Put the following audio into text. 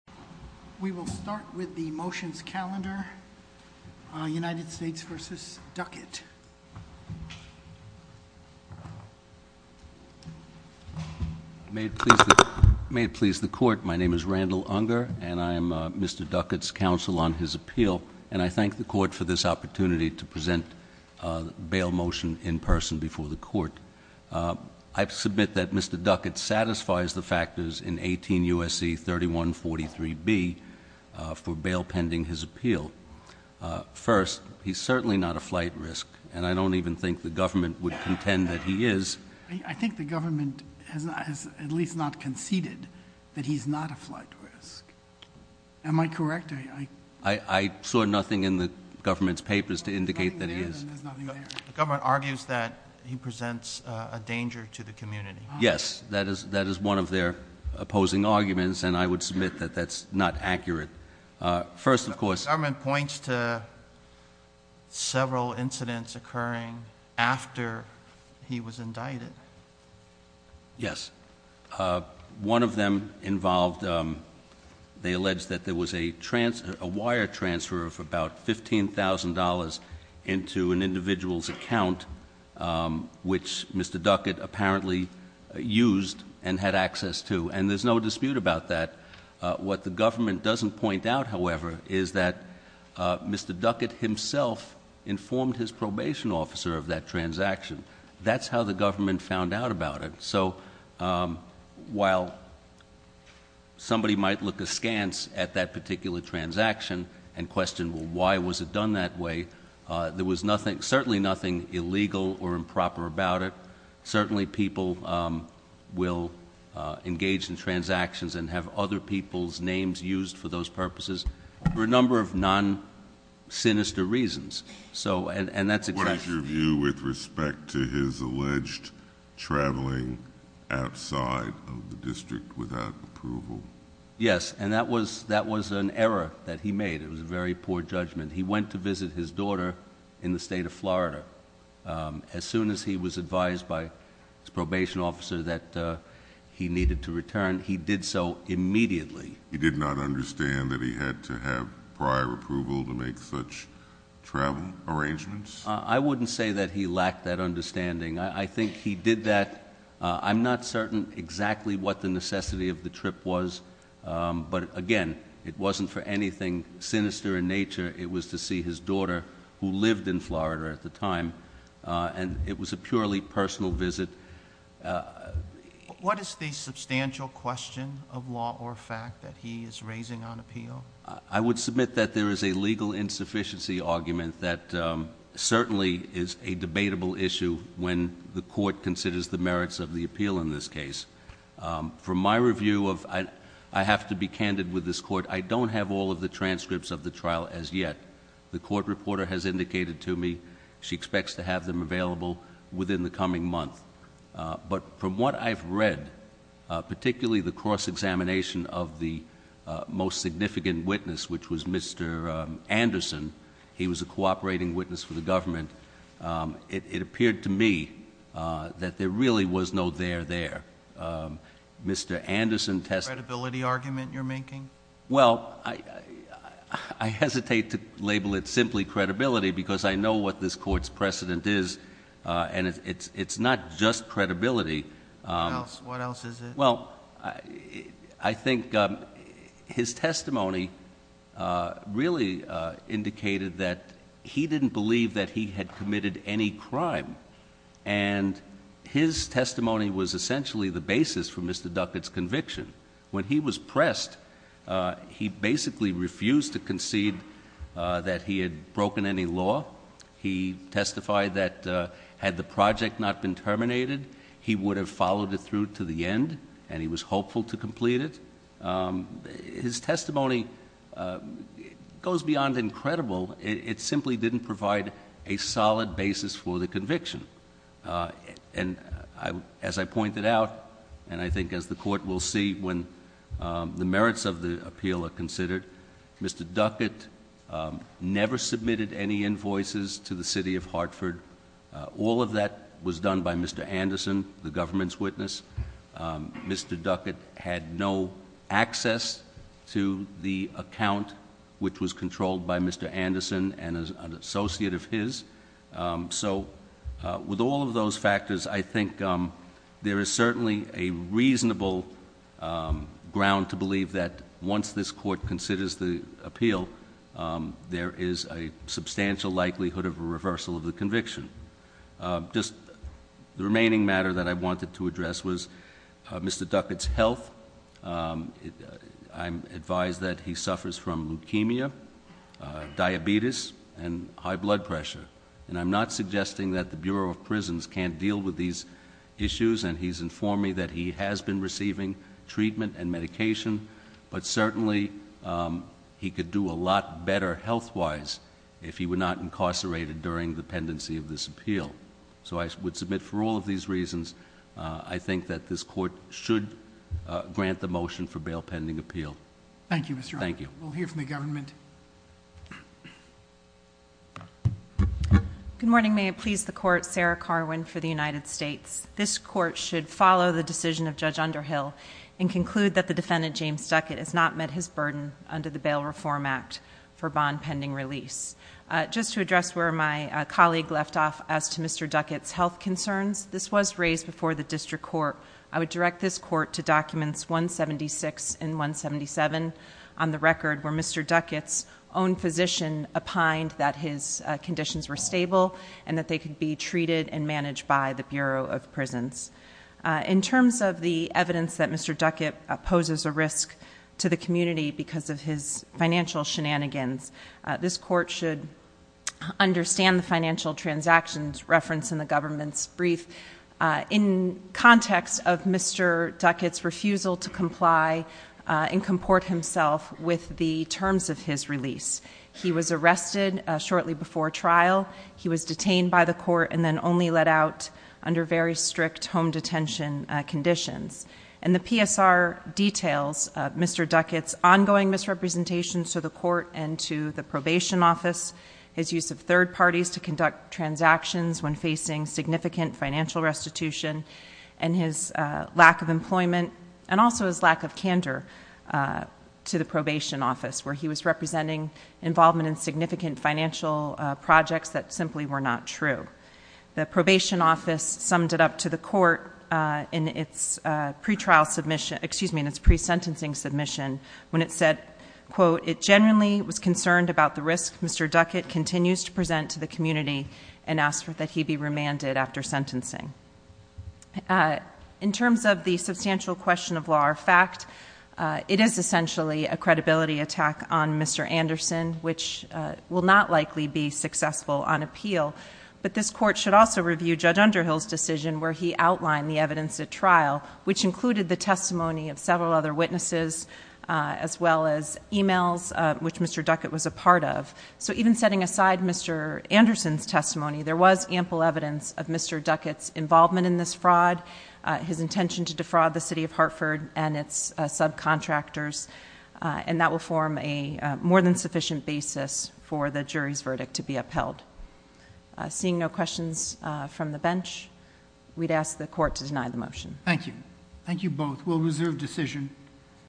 We will start with the motions calendar, United States v. Duckett. May it please the court, my name is Randall Unger and I am Mr. Duckett's counsel on his appeal and I thank the court for this opportunity to present a bail motion in person before the court. I submit that Mr. Duckett satisfies the 43B for bail pending his appeal. First, he's certainly not a flight risk and I don't even think the government would contend that he is. I think the government has at least not conceded that he's not a flight risk. Am I correct? I saw nothing in the government's papers to indicate that he is. The government argues that he presents a danger to the community. Yes, that is that is one of their opposing arguments and I would submit that that's not accurate. First, of course, the government points to several incidents occurring after he was indicted. Yes, one of them involved, they alleged that there was a wire transfer of about $15,000 into an individual's account which Mr. Duckett apparently used and had access to and there's no dispute about that. What the government doesn't point out, however, is that Mr. Duckett himself informed his probation officer of that transaction. That's how the government found out about it. So while somebody might look askance at that particular transaction and question why was it done that way, there was nothing, certainly nothing illegal or improper about it. Certainly people will engage in transactions and have other people's names used for those purposes for a number of non-sinister reasons. What is your view with respect to his alleged traveling outside of the district without approval? Yes, and that was an error that he made. It was a very poor judgment. He went to Florida. As soon as he was advised by his probation officer that he needed to return, he did so immediately. He did not understand that he had to have prior approval to make such travel arrangements? I wouldn't say that he lacked that understanding. I think he did that. I'm not certain exactly what the necessity of the trip was, but again, it wasn't for anything sinister in nature. It was to see his daughter, who lived in Florida at the time, and it was a purely personal visit. What is the substantial question of law or fact that he is raising on appeal? I would submit that there is a legal insufficiency argument that certainly is a debatable issue when the court considers the merits of the appeal in this case. From my review of... I have to be candid with this court. I don't have all of the transcripts of the trial as yet. The court reporter has indicated to me she expects to have them available within the coming month. But from what I've read, particularly the cross-examination of the most significant witness, which was Mr. Anderson, he was a cooperating witness for the government, it appeared to me that there really was no there there. Mr. Anderson tested... A credibility argument you're making? Well, I hesitate to label it simply credibility because I know what this court's precedent is, and it's not just credibility. What else is it? Well, I think his testimony really indicated that he didn't believe that he had committed any crime, and his testimony was essentially the basis for Mr. Anderson's conviction. He basically refused to concede that he had broken any law. He testified that had the project not been terminated, he would have followed it through to the end, and he was hopeful to complete it. His testimony goes beyond incredible. It simply didn't provide a solid basis for the conviction. And as I pointed out, and I think as the court will see, when the merits of the appeal are considered, Mr. Duckett never submitted any invoices to the city of Hartford. All of that was done by Mr. Anderson, the government's witness. Mr. Duckett had no access to the account which was controlled by Mr. Anderson and an associate of his. So with all of those things, I believe that once this court considers the appeal, there is a substantial likelihood of a reversal of the conviction. Just the remaining matter that I wanted to address was Mr. Duckett's health. I'm advised that he suffers from leukemia, diabetes, and high blood pressure. And I'm not suggesting that the Bureau of Prisons can't deal with these issues, and he's informed me that he has been receiving treatment and medication. But certainly, he could do a lot better health-wise if he were not incarcerated during the pendency of this appeal. So I would submit for all of these reasons, I think that this court should grant the motion for bail pending appeal. Thank you, Mr. Arthur. Thank you. We'll hear from the government. Good morning. May it please the Court, Sarah Carwin for the United States. This court should follow the decision of Judge Underhill and conclude that the defendant, James Duckett, has not met his burden under the Bail Reform Act for bond pending release. Just to address where my colleague left off as to Mr. Duckett's health concerns, this was raised before the district court. I would direct this court to documents 176 and 177 on the record where Mr. Duckett's own physician opined that his conditions were stable and that they could be treated and released from both prisons. In terms of the evidence that Mr. Duckett poses a risk to the community because of his financial shenanigans, this court should understand the financial transactions referenced in the government's brief in context of Mr. Duckett's refusal to comply and comport himself with the terms of his release. He was arrested shortly before trial. He was detained by the court and then only let out under very strict home detention conditions. And the PSR details Mr. Duckett's ongoing misrepresentations to the court and to the probation office, his use of third parties to conduct transactions when facing significant financial restitution, and his lack of employment and also his lack of candor to the probation office where he was representing involvement in significant financial projects that simply were not true. The probation office summed it up to the court in its pre-sentencing submission when it said, quote, it genuinely was concerned about the risk Mr. Duckett continues to present to the community and asked that he be remanded after sentencing. In terms of the substantial question of law or fact, it is essentially a credibility attack on Mr. Anderson, which will not likely be successful on his part. This court should also review Judge Underhill's decision where he outlined the evidence at trial, which included the testimony of several other witnesses as well as emails, which Mr. Duckett was a part of. So even setting aside Mr. Anderson's testimony, there was ample evidence of Mr. Duckett's involvement in this fraud, his intention to defraud the city of Hartford and its subcontractors, and that will form a more than sufficient basis for the jury's verdict to be upheld. Seeing no questions from the bench, we'd ask the court to deny the motion. Thank you. Thank you both. We'll reserve decision.